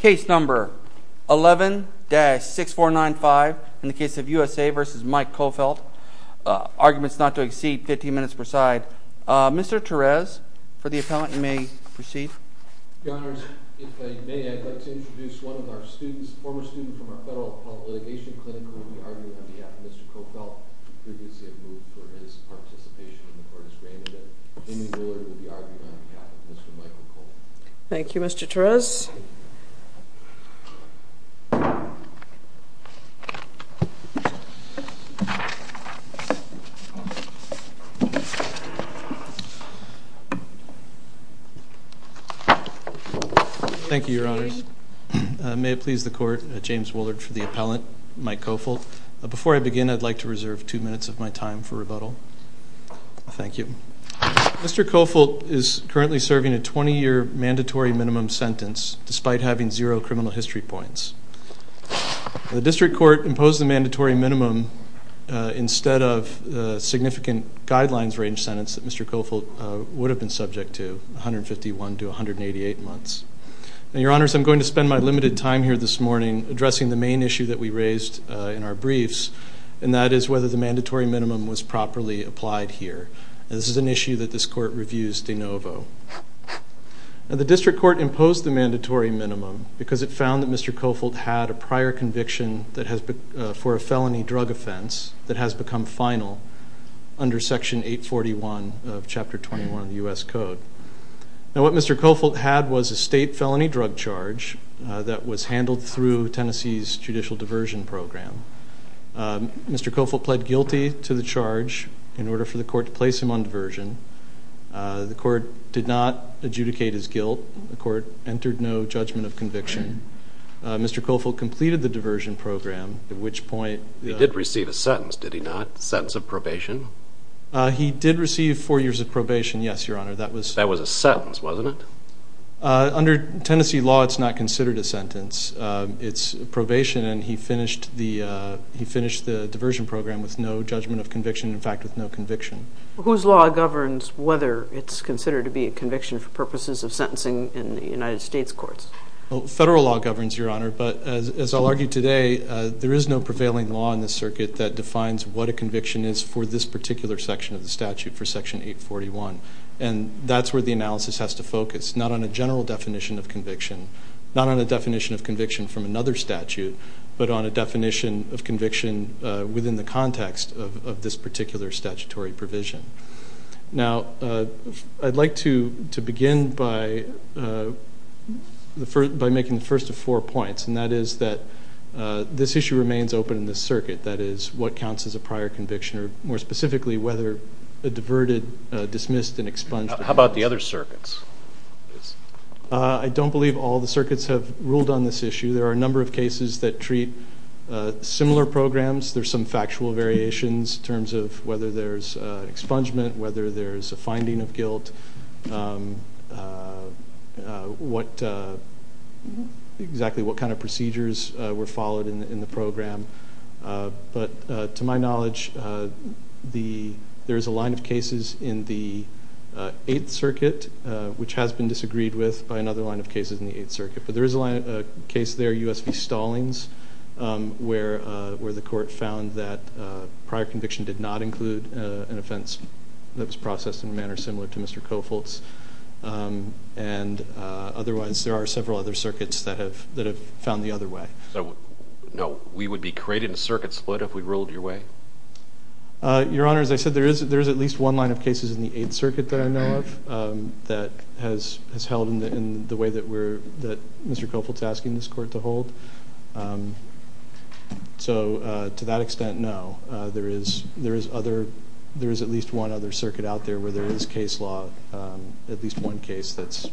Case number 11-6495 in the case of U.S.A. v. Mike Coffelt. Arguments not to exceed 15 minutes per side. Mr. Torres, for the appellant, you may proceed. Your Honors, if I may, I'd like to introduce one of our students, a former student from our Federal Appellate Litigation Clinic, who will be arguing on behalf of Mr. Coffelt, who previously had moved for his participation in the Court of Scrandon. Amy Mueller will be arguing on behalf of Mr. Mike Coffelt. Thank you, Mr. Torres. Thank you, Your Honors. May it please the Court, James Woolard for the appellant, Mike Coffelt. Before I begin, I'd like to reserve two minutes of my time for rebuttal. Thank you. Mr. Coffelt is currently serving a 20-year mandatory minimum sentence, despite having zero criminal history points. The District Court imposed the mandatory minimum instead of the significant guidelines range sentence that Mr. Coffelt would have been subject to, 151 to 188 months. Your Honors, I'm going to spend my limited time here this morning addressing the main issue that we raised in our briefs, and that is whether the mandatory minimum was properly applied here. This is an issue that this Court reviews de novo. The District Court imposed the mandatory minimum because it found that Mr. Coffelt had a prior conviction for a felony drug offense that has become final under Section 841 of Chapter 21 of the U.S. Code. What Mr. Coffelt had was a state felony drug charge that was handled through Tennessee's judicial diversion program. Mr. Coffelt pled guilty to the charge in order for the Court to place him on diversion. The Court did not adjudicate his guilt. The Court entered no judgment of conviction. Mr. Coffelt completed the diversion program, at which point... He did receive a sentence, did he not? A sentence of probation? He did receive four years of probation, yes, Your Honor. That was a sentence, wasn't it? Under Tennessee law, it's not considered a sentence. It's probation, and he finished the diversion program with no judgment of conviction, in fact, with no conviction. Whose law governs whether it's considered to be a conviction for purposes of sentencing in the United States courts? Federal law governs, Your Honor, but as I'll argue today, there is no prevailing law in this circuit that defines what a conviction is for this particular section of the statute, for Section 841. And that's where the analysis has to focus, not on a general definition of conviction, not on a definition of conviction from another statute, but on a definition of conviction within the context of this particular statutory provision. Now, I'd like to begin by making the first of four points, and that is that this issue remains open in this circuit, that is, what counts as a prior conviction, or more specifically, whether a diverted, dismissed, and expunged... How about the other circuits? I don't believe all the circuits have ruled on this issue. There are a number of cases that treat similar programs. There are some factual variations in terms of whether there's expungement, whether there's a finding of guilt, exactly what kind of procedures were followed in the program. But to my knowledge, there is a line of cases in the Eighth Circuit, which has been disagreed with by another line of cases in the Eighth Circuit. But there is a case there, U.S. v. Stallings, where the court found that prior conviction did not include an offense that was processed in a manner similar to Mr. Kofoltz. And otherwise, there are several other circuits that have found the other way. So, no, we would be creating a circuit split if we ruled your way? Your Honor, as I said, there is at least one line of cases in the Eighth Circuit that I know of that has held in the way that Mr. Kofoltz is asking this court to hold. So to that extent, no. There is at least one other circuit out there where there is case law, at least one case that's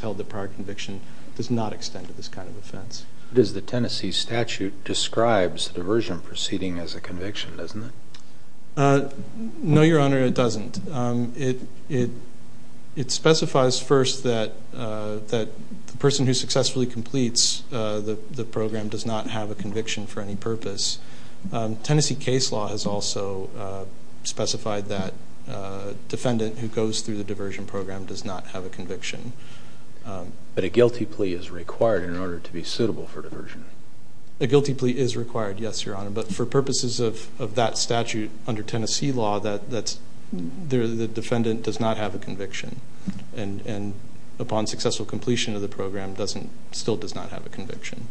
held that prior conviction does not extend to this kind of offense. The Tennessee statute describes the diversion proceeding as a conviction, doesn't it? No, Your Honor, it doesn't. It specifies first that the person who successfully completes the program does not have a conviction for any purpose. Tennessee case law has also specified that But a guilty plea is required in order to be suitable for diversion? A guilty plea is required, yes, Your Honor. But for purposes of that statute under Tennessee law, the defendant does not have a conviction. And upon successful completion of the program, still does not have a conviction.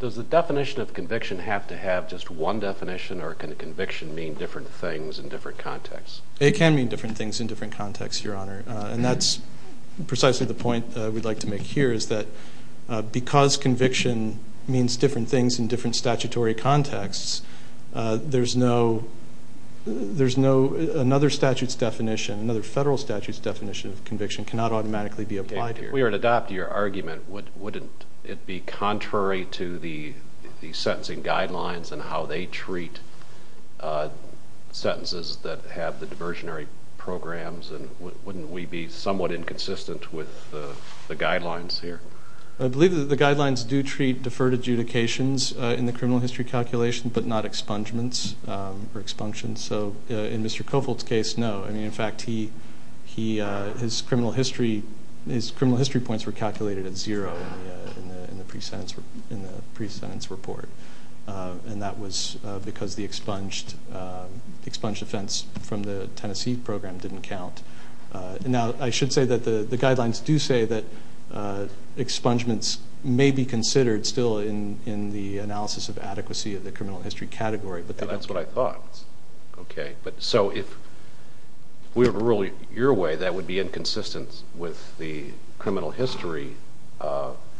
Does the definition of conviction have to have just one definition or can a conviction mean different things in different contexts? It can mean different things in different contexts, Your Honor. And that's precisely the point we'd like to make here, is that because conviction means different things in different statutory contexts, there's no another statute's definition, another federal statute's definition of conviction cannot automatically be applied here. If we were to adopt your argument, wouldn't it be contrary to the sentencing guidelines and how they treat sentences that have the diversionary programs? And wouldn't we be somewhat inconsistent with the guidelines here? I believe that the guidelines do treat deferred adjudications in the criminal history calculation but not expungements or expunctions. So in Mr. Kovold's case, no. I mean, in fact, his criminal history points were calculated at zero in the pre-sentence report. And that was because the expunged offense from the Tennessee program didn't count. Now, I should say that the guidelines do say that expungements may be considered still in the analysis of adequacy of the criminal history category. But that's what I thought. Okay. So if we were to rule your way, that would be inconsistent with the criminal history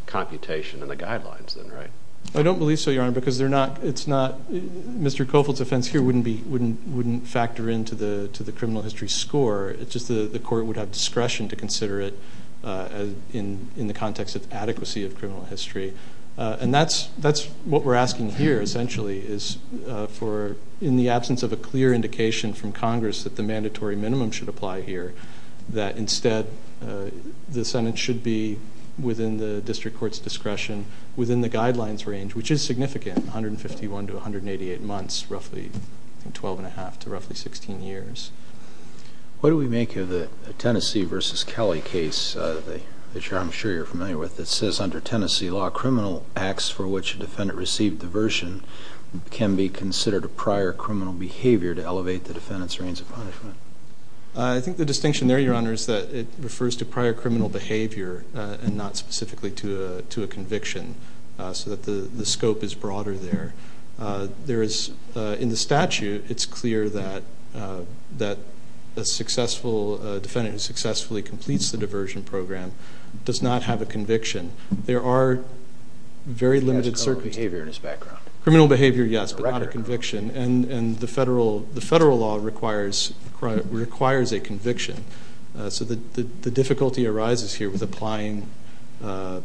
computation in the guidelines, right? I don't believe so, Your Honor, because Mr. Kovold's offense here wouldn't factor into the criminal history score. It's just the court would have discretion to consider it in the context of adequacy of criminal history. And that's what we're asking here, essentially, is in the absence of a clear indication from Congress that the mandatory minimum should apply here, that instead the sentence should be within the district court's discretion within the guidelines range, which is significant, 151 to 188 months, roughly 12 1⁄2 to roughly 16 years. What do we make of the Tennessee v. Kelly case that I'm sure you're familiar with that says under Tennessee law, criminal acts for which a defendant received diversion can be considered a prior criminal behavior to elevate the defendant's range of punishment? I think the distinction there, Your Honor, is that it refers to prior criminal behavior and not specifically to a conviction so that the scope is broader there. In the statute, it's clear that a defendant who successfully completes the diversion program does not have a conviction. There are very limited circumstances. He has criminal behavior in his background. Criminal behavior, yes, but not a conviction. And the federal law requires a conviction. So the difficulty arises here with applying the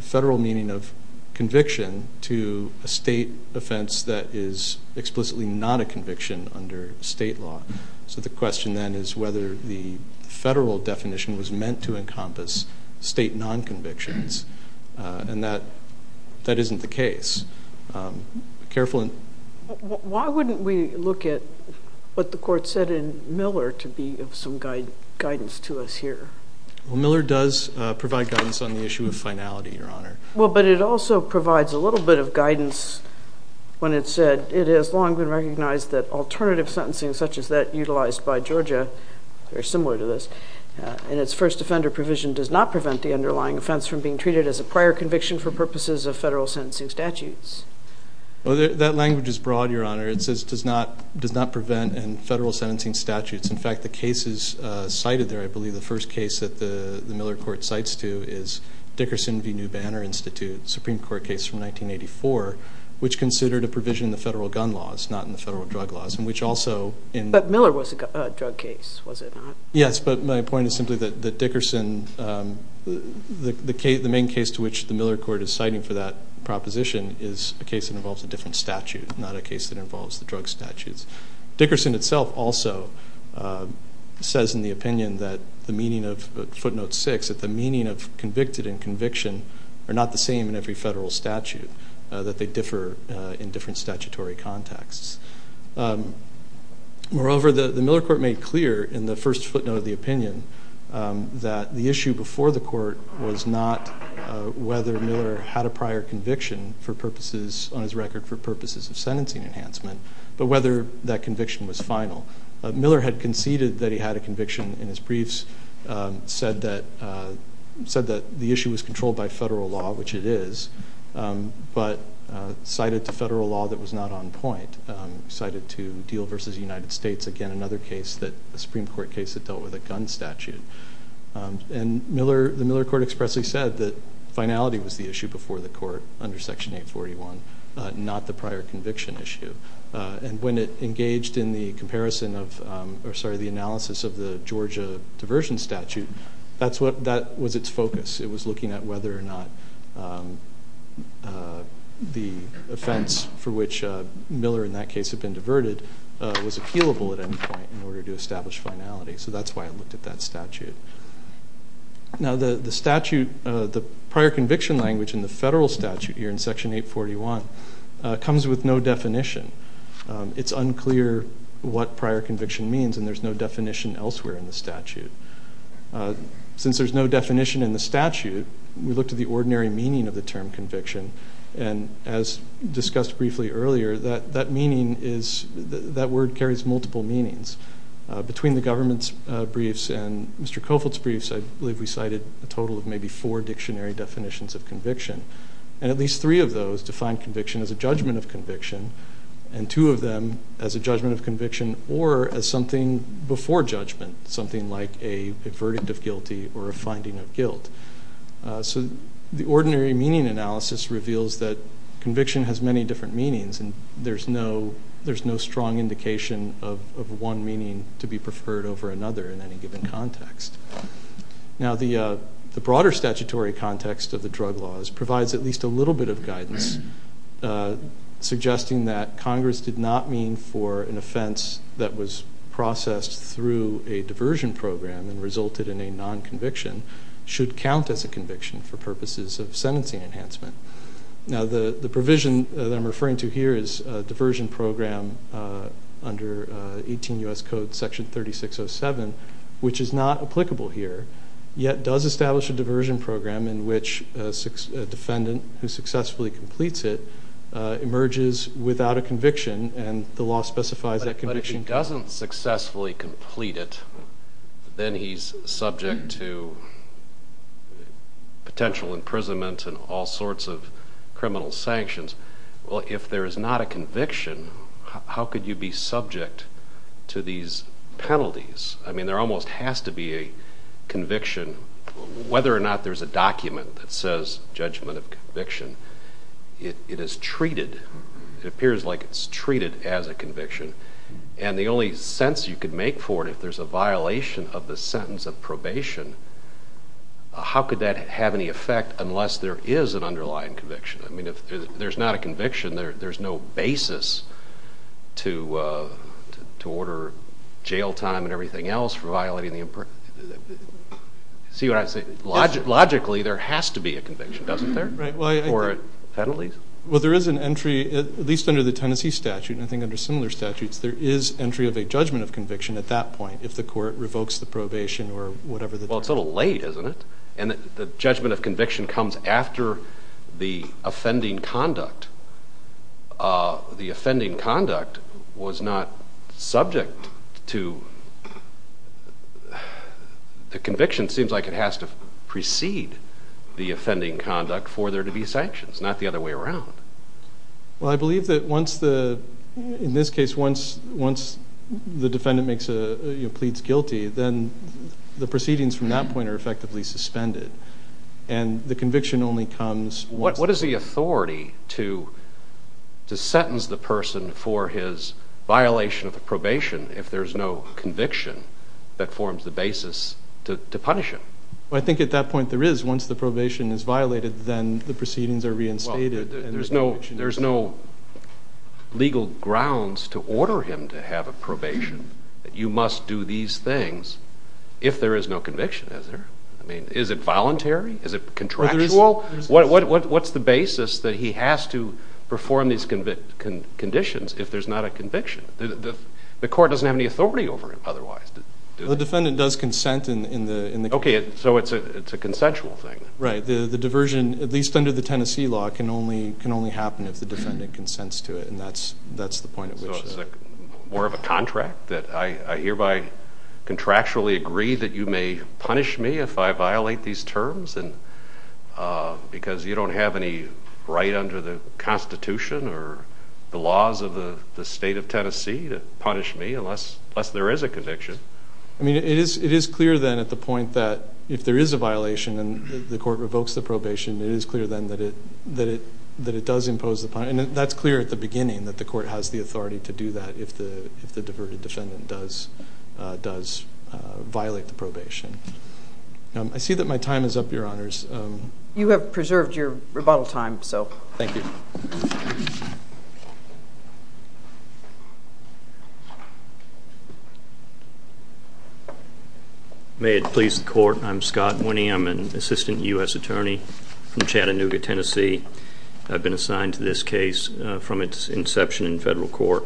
federal meaning of conviction to a state offense that is explicitly not a conviction under state law. So the question then is whether the federal definition was meant to encompass state non-convictions, and that isn't the case. Why wouldn't we look at what the Court said in Miller to be of some guidance to us here? Well, Miller does provide guidance on the issue of finality, Your Honor. Well, but it also provides a little bit of guidance when it said, it has long been recognized that alternative sentencing such as that utilized by Georgia, very similar to this, in its first offender provision does not prevent the underlying offense from being treated as a prior conviction for purposes of federal sentencing statutes. Well, that language is broad, Your Honor. It says does not prevent in federal sentencing statutes. In fact, the cases cited there, I believe the first case that the Miller Court cites to, is Dickerson v. New Banner Institute, Supreme Court case from 1984, which considered a provision in the federal gun laws, not in the federal drug laws, and which also in... But Miller was a drug case, was it not? Yes, but my point is simply that Dickerson, the main case to which the Miller Court is citing for that proposition is a case that involves a different statute, not a case that involves the drug statutes. Dickerson itself also says in the opinion that the meaning of footnote 6, that the meaning of convicted and conviction are not the same in every federal statute, that they differ in different statutory contexts. Moreover, the Miller Court made clear in the first footnote of the opinion that the issue before the court was not whether Miller had a prior conviction for purposes, on his record, for purposes of sentencing enhancement, but whether that conviction was final. Miller had conceded that he had a conviction in his briefs, said that the issue was controlled by federal law, which it is, but cited to federal law that was not on point, cited to Deal v. United States, again, another Supreme Court case that dealt with a gun statute. And the Miller Court expressly said that finality was the issue before the court under Section 841, not the prior conviction issue. And when it engaged in the analysis of the Georgia diversion statute, that was its focus. It was looking at whether or not the offense for which Miller, in that case, had been diverted was appealable at any point in order to establish finality. So that's why it looked at that statute. Now the statute, the prior conviction language in the federal statute here in Section 841 comes with no definition. It's unclear what prior conviction means, and there's no definition elsewhere in the statute. Since there's no definition in the statute, we looked at the ordinary meaning of the term conviction, and as discussed briefly earlier, that word carries multiple meanings. Between the government's briefs and Mr. Cofield's briefs, I believe we cited a total of maybe four dictionary definitions of conviction, and at least three of those define conviction as a judgment of conviction and two of them as a judgment of conviction or as something before judgment, so the ordinary meaning analysis reveals that conviction has many different meanings and there's no strong indication of one meaning to be preferred over another in any given context. Now the broader statutory context of the drug laws provides at least a little bit of guidance, suggesting that Congress did not mean for an offense that was processed through a diversion program and resulted in a non-conviction should count as a conviction for purposes of sentencing enhancement. Now the provision that I'm referring to here is a diversion program under 18 U.S. Code Section 3607, which is not applicable here, yet does establish a diversion program in which a defendant who successfully completes it emerges without a conviction, and the law specifies that conviction counts. If he doesn't successfully complete it, then he's subject to potential imprisonment and all sorts of criminal sanctions. Well, if there is not a conviction, how could you be subject to these penalties? I mean, there almost has to be a conviction. Whether or not there's a document that says judgment of conviction, it is treated, it appears like it's treated as a conviction, and the only sense you could make for it if there's a violation of the sentence of probation, how could that have any effect unless there is an underlying conviction? I mean, if there's not a conviction, there's no basis to order jail time and everything else for violating the imperative. See what I'm saying? Logically, there has to be a conviction, doesn't there? Right. Or penalties. Well, there is an entry, at least under the Tennessee statute, and I think under similar statutes, there is entry of a judgment of conviction at that point if the court revokes the probation or whatever. Well, it's a little late, isn't it? And the judgment of conviction comes after the offending conduct. The offending conduct was not subject to the conviction. It seems like it has to precede the offending conduct for there to be sanctions, not the other way around. Well, I believe that once the defendant pleads guilty, then the proceedings from that point are effectively suspended, and the conviction only comes once. What is the authority to sentence the person for his violation of the probation if there's no conviction that forms the basis to punish him? I think at that point there is. Once the probation is violated, then the proceedings are reinstated. Well, there's no legal grounds to order him to have a probation. You must do these things if there is no conviction, is there? I mean, is it voluntary? Is it contractual? What's the basis that he has to perform these conditions if there's not a conviction? The court doesn't have any authority over him otherwise. The defendant does consent in the case. Okay, so it's a consensual thing. Right. The diversion, at least under the Tennessee law, can only happen if the defendant consents to it, and that's the point at which. So it's more of a contract that I hereby contractually agree that you may punish me if I violate these terms because you don't have any right under the Constitution or the laws of the state of Tennessee to punish me unless there is a conviction? I mean, it is clear then at the point that if there is a violation and the court revokes the probation, it is clear then that it does impose the punishment, and that's clear at the beginning that the court has the authority to do that if the diverted defendant does violate the probation. I see that my time is up, Your Honors. You have preserved your rebuttal time, so. Thank you. Thank you. May it please the Court, I'm Scott Winnie. I'm an assistant U.S. attorney from Chattanooga, Tennessee. I've been assigned to this case from its inception in federal court.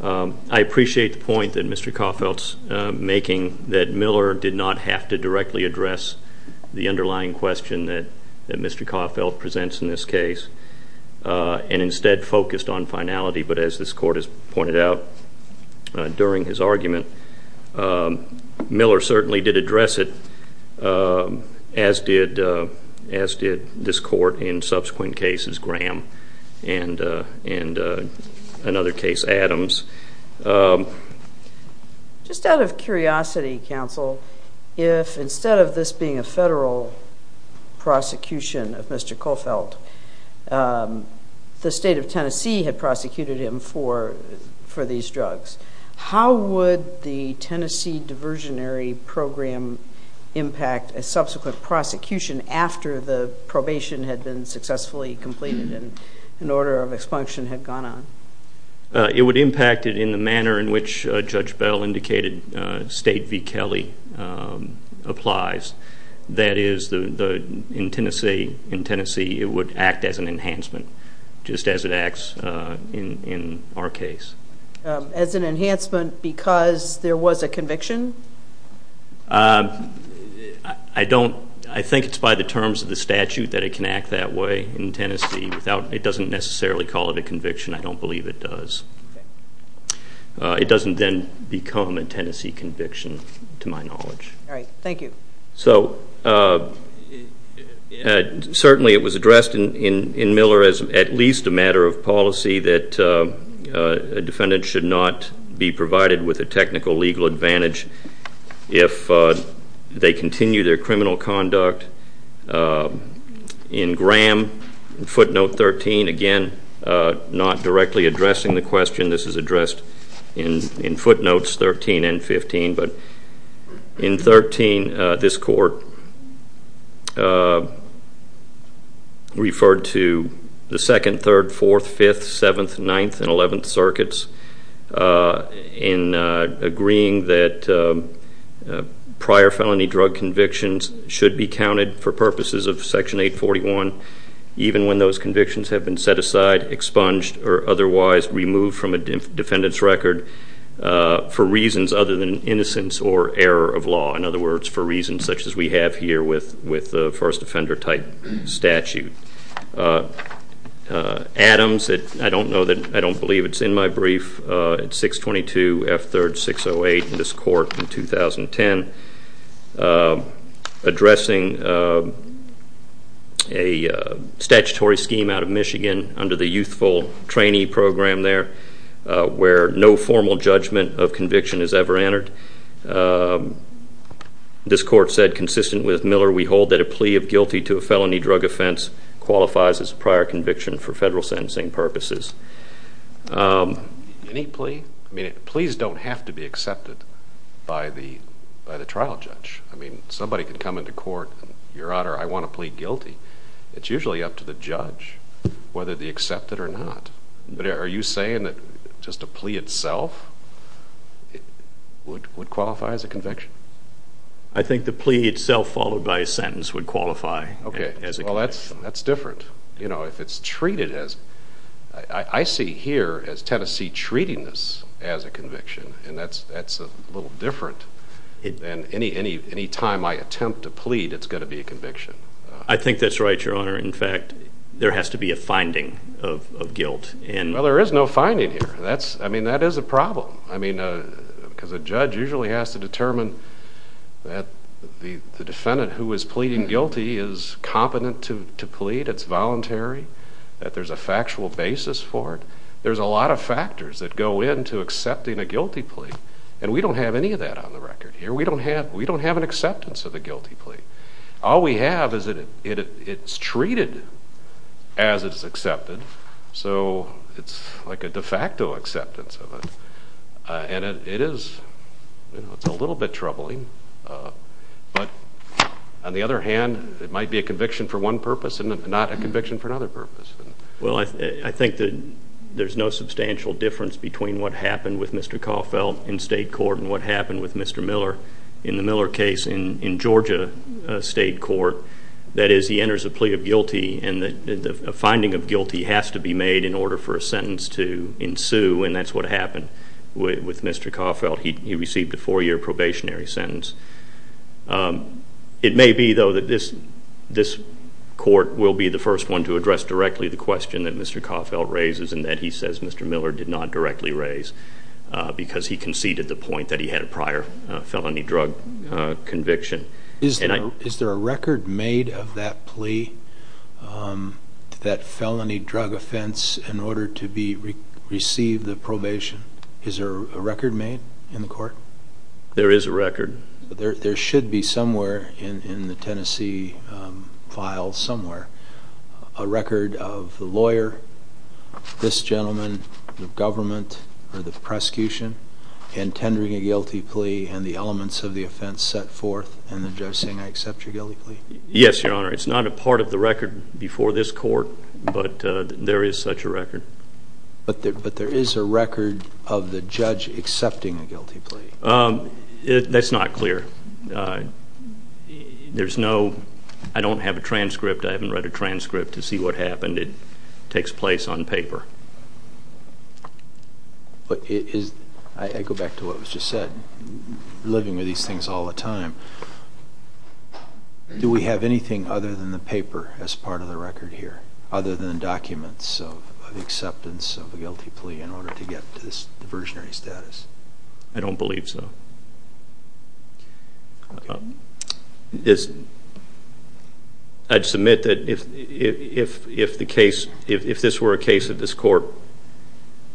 I appreciate the point that Mr. Caulfield is making that Miller did not have to directly address the underlying question that Mr. Caulfield presents in this case and instead focused on finality. But as this court has pointed out during his argument, Miller certainly did address it, as did this court in subsequent cases, Graham and another case, Adams. Just out of curiosity, counsel, if instead of this being a federal prosecution of Mr. Caulfield, the state of Tennessee had prosecuted him for these drugs, how would the Tennessee Diversionary Program impact a subsequent prosecution after the probation had been successfully completed and an order of expunction had gone on? It would impact it in the manner in which Judge Bell indicated State v. Kelly applies. That is, in Tennessee it would act as an enhancement, just as it acts in our case. As an enhancement because there was a conviction? I think it's by the terms of the statute that it can act that way in Tennessee. It doesn't necessarily call it a conviction. I don't believe it does. It doesn't then become a Tennessee conviction to my knowledge. All right. Thank you. So certainly it was addressed in Miller as at least a matter of policy that a defendant should not be provided with a technical legal advantage if they continue their criminal conduct. In Graham, footnote 13, again, not directly addressing the question. This is addressed in footnotes 13 and 15. But in 13, this court referred to the 2nd, 3rd, 4th, 5th, 7th, 9th, and 11th circuits in agreeing that prior felony drug convictions should be counted for purposes of Section 841, even when those convictions have been set aside, expunged, or otherwise removed from a defendant's record for reasons other than innocence or error of law. In other words, for reasons such as we have here with the first offender type statute. Adams, I don't know that, I don't believe it's in my brief. It's 622 F3rd 608 in this court in 2010. Addressing a statutory scheme out of Michigan under the youthful trainee program there where no formal judgment of conviction is ever entered. This court said, consistent with Miller, we hold that a plea of guilty to a felony drug offense qualifies as a prior conviction for federal sentencing purposes. Any plea? I mean, pleas don't have to be accepted by the trial judge. I mean, somebody could come into court, Your Honor, I want to plea guilty. It's usually up to the judge whether they accept it or not. But are you saying that just a plea itself would qualify as a conviction? I think the plea itself followed by a sentence would qualify as a conviction. Okay, well, that's different. You know, if it's treated as, I see here as Tennessee treating this as a conviction, and that's a little different than any time I attempt to plead it's going to be a conviction. I think that's right, Your Honor. In fact, there has to be a finding of guilt. Well, there is no finding here. I mean, that is a problem. I mean, because a judge usually has to determine that the defendant who is pleading guilty is competent to plead, it's voluntary, that there's a factual basis for it. There's a lot of factors that go into accepting a guilty plea, and we don't have any of that on the record here. We don't have an acceptance of a guilty plea. All we have is that it's treated as it's accepted, so it's like a de facto acceptance of it. And it is a little bit troubling, but on the other hand, it might be a conviction for one purpose and not a conviction for another purpose. Well, I think that there's no substantial difference between what happened with Mr. Caulfield in state court and what happened with Mr. Miller in the Miller case in Georgia state court. That is, he enters a plea of guilty, and a finding of guilty has to be made in order for a sentence to ensue, and that's what happened with Mr. Caulfield. He received a four-year probationary sentence. It may be, though, that this court will be the first one to address directly the question that Mr. Caulfield raises and that he says Mr. Miller did not directly raise because he conceded the point that he had a prior felony drug conviction. Is there a record made of that plea, that felony drug offense, in order to receive the probation? Is there a record made in the court? There is a record. There should be somewhere in the Tennessee file somewhere a record of the lawyer, this gentleman, the government, or the prosecution intending a guilty plea and the elements of the offense set forth, and the judge saying, I accept your guilty plea. Yes, Your Honor. It's not a part of the record before this court, but there is such a record. But there is a record of the judge accepting a guilty plea. That's not clear. There's no, I don't have a transcript. I haven't read a transcript to see what happened. It takes place on paper. I go back to what was just said. Living with these things all the time, do we have anything other than the paper as part of the record here, other than documents of acceptance of a guilty plea in order to get to this diversionary status? I don't believe so. I'd submit that if this were a case that this court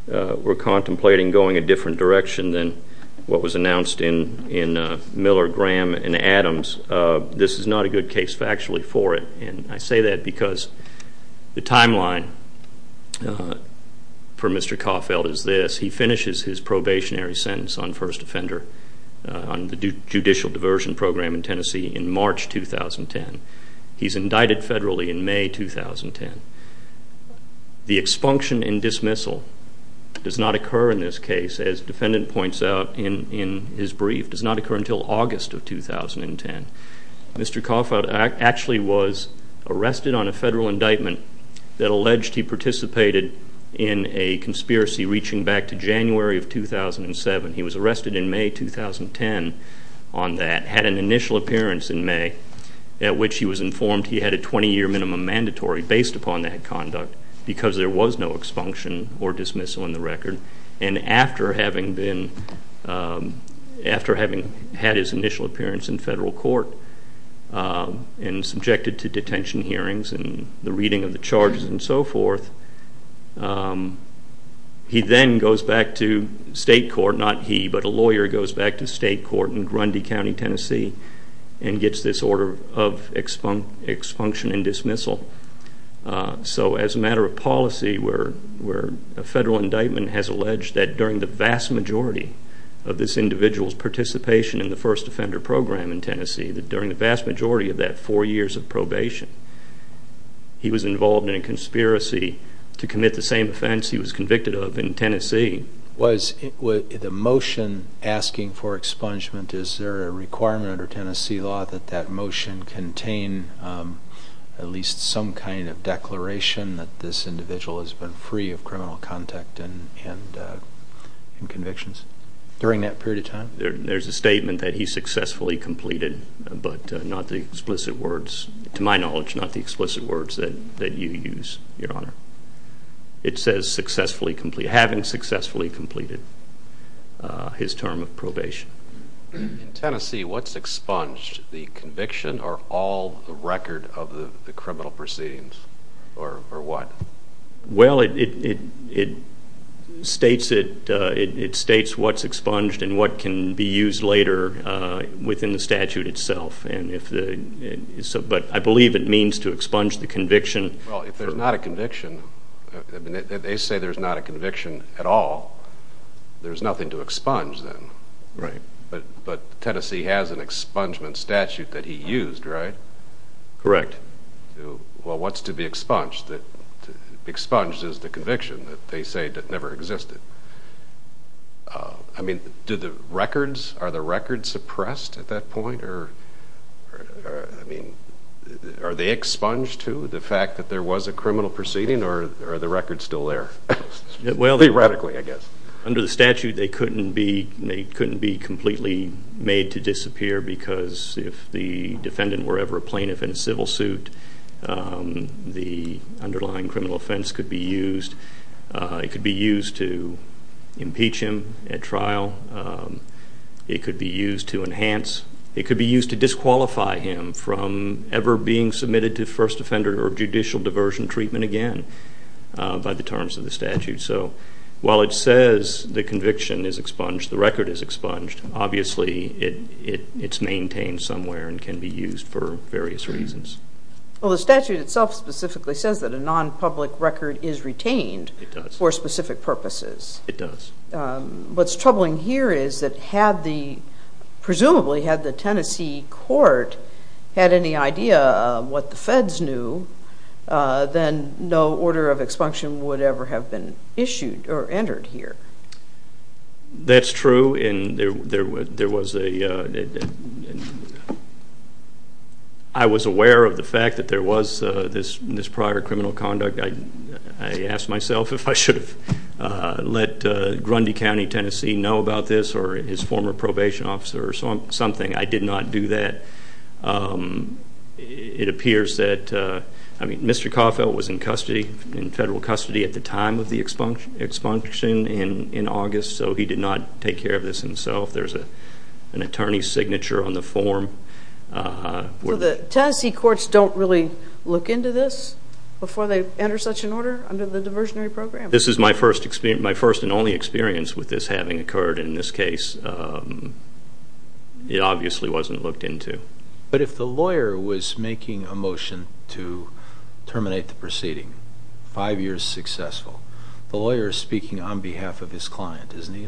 were contemplating going a different direction than what was announced in Miller, Graham, and Adams, this is not a good case factually for it. And I say that because the timeline for Mr. Caulfield is this. He finishes his probationary sentence on first offender on the judicial diversion program in Tennessee in March 2010. He's indicted federally in May 2010. The expunction and dismissal does not occur in this case, as the defendant points out in his brief, does not occur until August of 2010. Mr. Caulfield actually was arrested on a federal indictment that alleged he participated in a conspiracy reaching back to January of 2007. He was arrested in May 2010 on that, had an initial appearance in May, at which he was informed he had a 20-year minimum mandatory based upon that conduct because there was no expunction or dismissal in the record. And after having had his initial appearance in federal court and subjected to detention hearings and the reading of the charges and so forth, he then goes back to state court, not he, but a lawyer goes back to state court in Grundy County, Tennessee, and gets this order of expunction and dismissal. So as a matter of policy, a federal indictment has alleged that during the vast majority of this individual's participation in the first offender program in Tennessee, that during the vast majority of that four years of probation, he was involved in a conspiracy to commit the same offense he was convicted of in Tennessee. Was the motion asking for expungement, is there a requirement under Tennessee law that that motion contain at least some kind of declaration that this individual has been free of criminal contact and convictions during that period of time? There's a statement that he successfully completed, but not the explicit words, to my knowledge, not the explicit words that you use, Your Honor. It says successfully completed, having successfully completed his term of probation. In Tennessee, what's expunged? The conviction or all the record of the criminal proceedings or what? Well, it states what's expunged and what can be used later within the statute itself, but I believe it means to expunge the conviction. Well, if there's not a conviction, they say there's not a conviction at all, there's nothing to expunge then. Right. But Tennessee has an expungement statute that he used, right? Correct. Well, what's to be expunged? Expunged is the conviction that they say never existed. I mean, do the records, are the records suppressed at that point? I mean, are they expunged too, the fact that there was a criminal proceeding, or are the records still there? Theoretically, I guess. Under the statute, they couldn't be completely made to disappear because if the defendant were ever a plaintiff in a civil suit, the underlying criminal offense could be used. It could be used to impeach him at trial. It could be used to enhance. It could be used to disqualify him from ever being submitted to first offender or judicial diversion treatment again by the terms of the statute. So while it says the conviction is expunged, the record is expunged, obviously it's maintained somewhere and can be used for various reasons. Well, the statute itself specifically says that a non-public record is retained for specific purposes. It does. What's troubling here is that presumably had the Tennessee court had any idea what the feds knew, then no order of expunction would ever have been issued or entered here. That's true, and I was aware of the fact that there was this prior criminal conduct. I asked myself if I should have let Grundy County, Tennessee, know about this or his former probation officer or something. I did not do that. It appears that Mr. Coffelt was in federal custody at the time of the expunction in August, so he did not take care of this himself. There's an attorney's signature on the form. So the Tennessee courts don't really look into this before they enter such an order under the diversionary program? This is my first and only experience with this having occurred in this case. It obviously wasn't looked into. But if the lawyer was making a motion to terminate the proceeding, five years successful, the lawyer is speaking on behalf of his client, isn't he?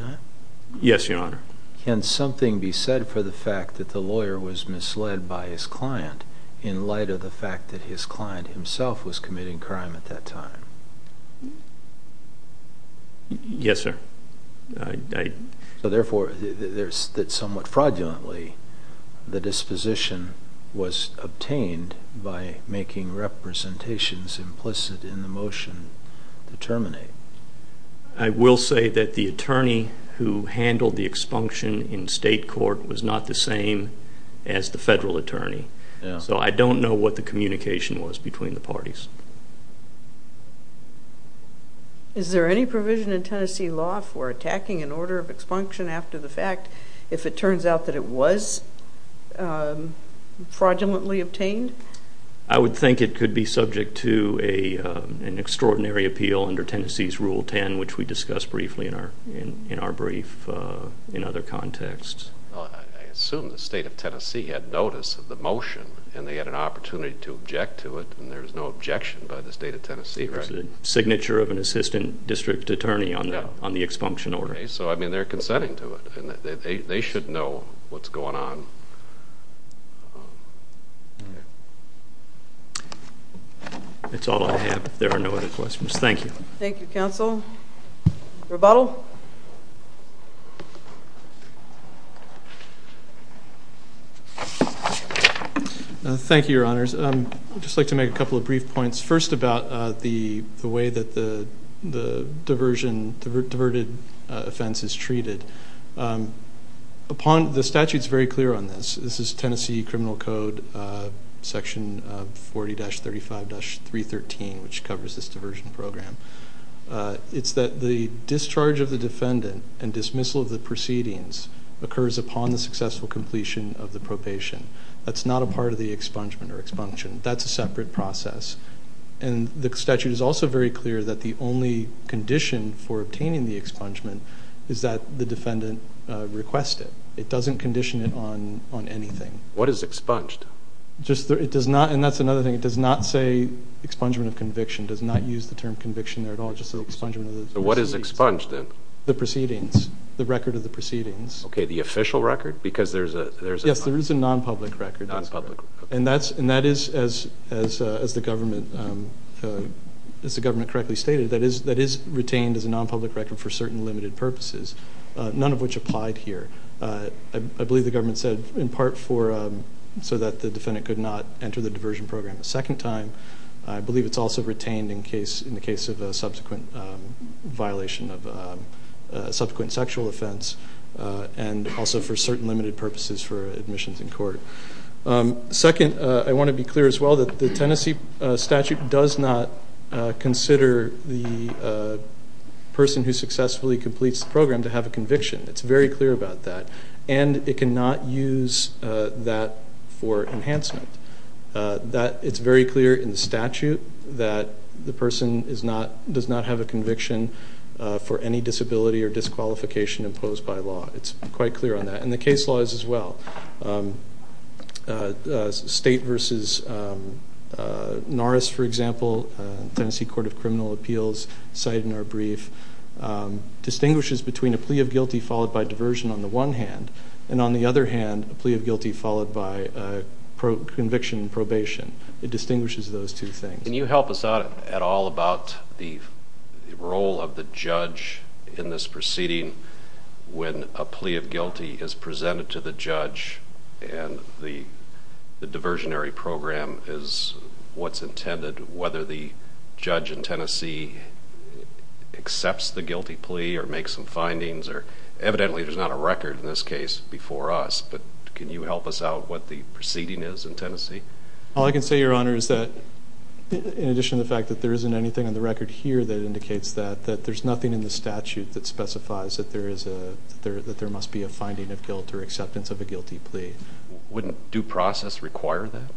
Yes, Your Honor. Can something be said for the fact that the lawyer was misled by his client in light of the fact that his client himself was committing crime at that time? Yes, sir. Therefore, somewhat fraudulently, the disposition was obtained by making representations implicit in the motion to terminate. I will say that the attorney who handled the expunction in state court was not the same as the federal attorney, so I don't know what the communication was between the parties. Is there any provision in Tennessee law for attacking an order of expunction after the fact if it turns out that it was fraudulently obtained? I would think it could be subject to an extraordinary appeal under Tennessee's Rule 10, which we discussed briefly in our brief in other contexts. I assume the state of Tennessee had notice of the motion and they had an opportunity to object to it, and there was no objection by the state of Tennessee. It was the signature of an assistant district attorney on the expunction order. So, I mean, they're consenting to it. They should know what's going on. That's all I have. If there are no other questions, thank you. Thank you, counsel. Rebuttal. Thank you, Your Honors. I'd just like to make a couple of brief points. First, about the way that the diversion, diverted offense is treated. The statute is very clear on this. This is Tennessee Criminal Code Section 40-35-313, which covers this diversion program. It's that the discharge of the defendant and dismissal of the proceedings occurs upon the successful completion of the propation. That's not a part of the expungement or expunction. That's a separate process. And the statute is also very clear that the only condition for obtaining the expungement is that the defendant request it. It doesn't condition it on anything. What is expunged? It does not, and that's another thing, it does not say expungement of conviction, does not use the term conviction there at all, just expungement of the proceedings. So what is expunged then? The proceedings, the record of the proceedings. Okay, the official record? Yes, there is a non-public record. And that is, as the government correctly stated, that is retained as a non-public record for certain limited purposes, none of which applied here. I believe the government said in part so that the defendant could not enter the diversion program a second time. I believe it's also retained in the case of a subsequent violation of subsequent sexual offense and also for certain limited purposes for admissions in court. Second, I want to be clear as well that the Tennessee statute does not consider the person who successfully completes the program to have a conviction. It's very clear about that. And it cannot use that for enhancement. It's very clear in the statute that the person does not have a conviction for any disability or disqualification imposed by law. It's quite clear on that. And the case law is as well. State versus Norris, for example, Tennessee Court of Criminal Appeals cited in our brief, distinguishes between a plea of guilty followed by diversion on the one hand, and on the other hand, a plea of guilty followed by conviction and probation. It distinguishes those two things. Can you help us out at all about the role of the judge in this proceeding when a plea of guilty is presented to the judge and the diversionary program is what's intended, whether the judge in Tennessee accepts the guilty plea or makes some findings or evidently there's not a record in this case before us, but can you help us out what the proceeding is in Tennessee? All I can say, Your Honor, is that in addition to the fact that there isn't anything on the record here that indicates that, that there's nothing in the statute that specifies that there must be a finding of guilt or acceptance of a guilty plea. Wouldn't due process require that?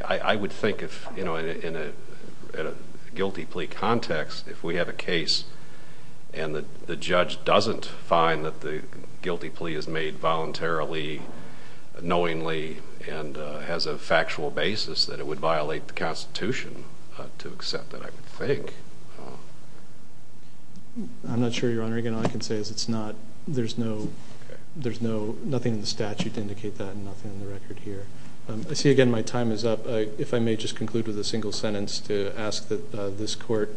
I would think if, you know, in a guilty plea context, if we have a case and the judge doesn't find that the guilty plea is made voluntarily, knowingly, and has a factual basis, that it would violate the Constitution to accept it, I would think. I'm not sure, Your Honor. Again, all I can say is it's not, there's nothing in the statute to indicate that and nothing on the record here. I see, again, my time is up. If I may just conclude with a single sentence to ask that this court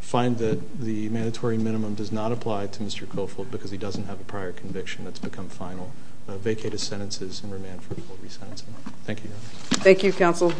find that the mandatory minimum does not apply to Mr. Coffold because he doesn't have a prior conviction that's become final. Vacate his sentences and remand for full resentencing. Thank you, Your Honor. Thank you, Counsel.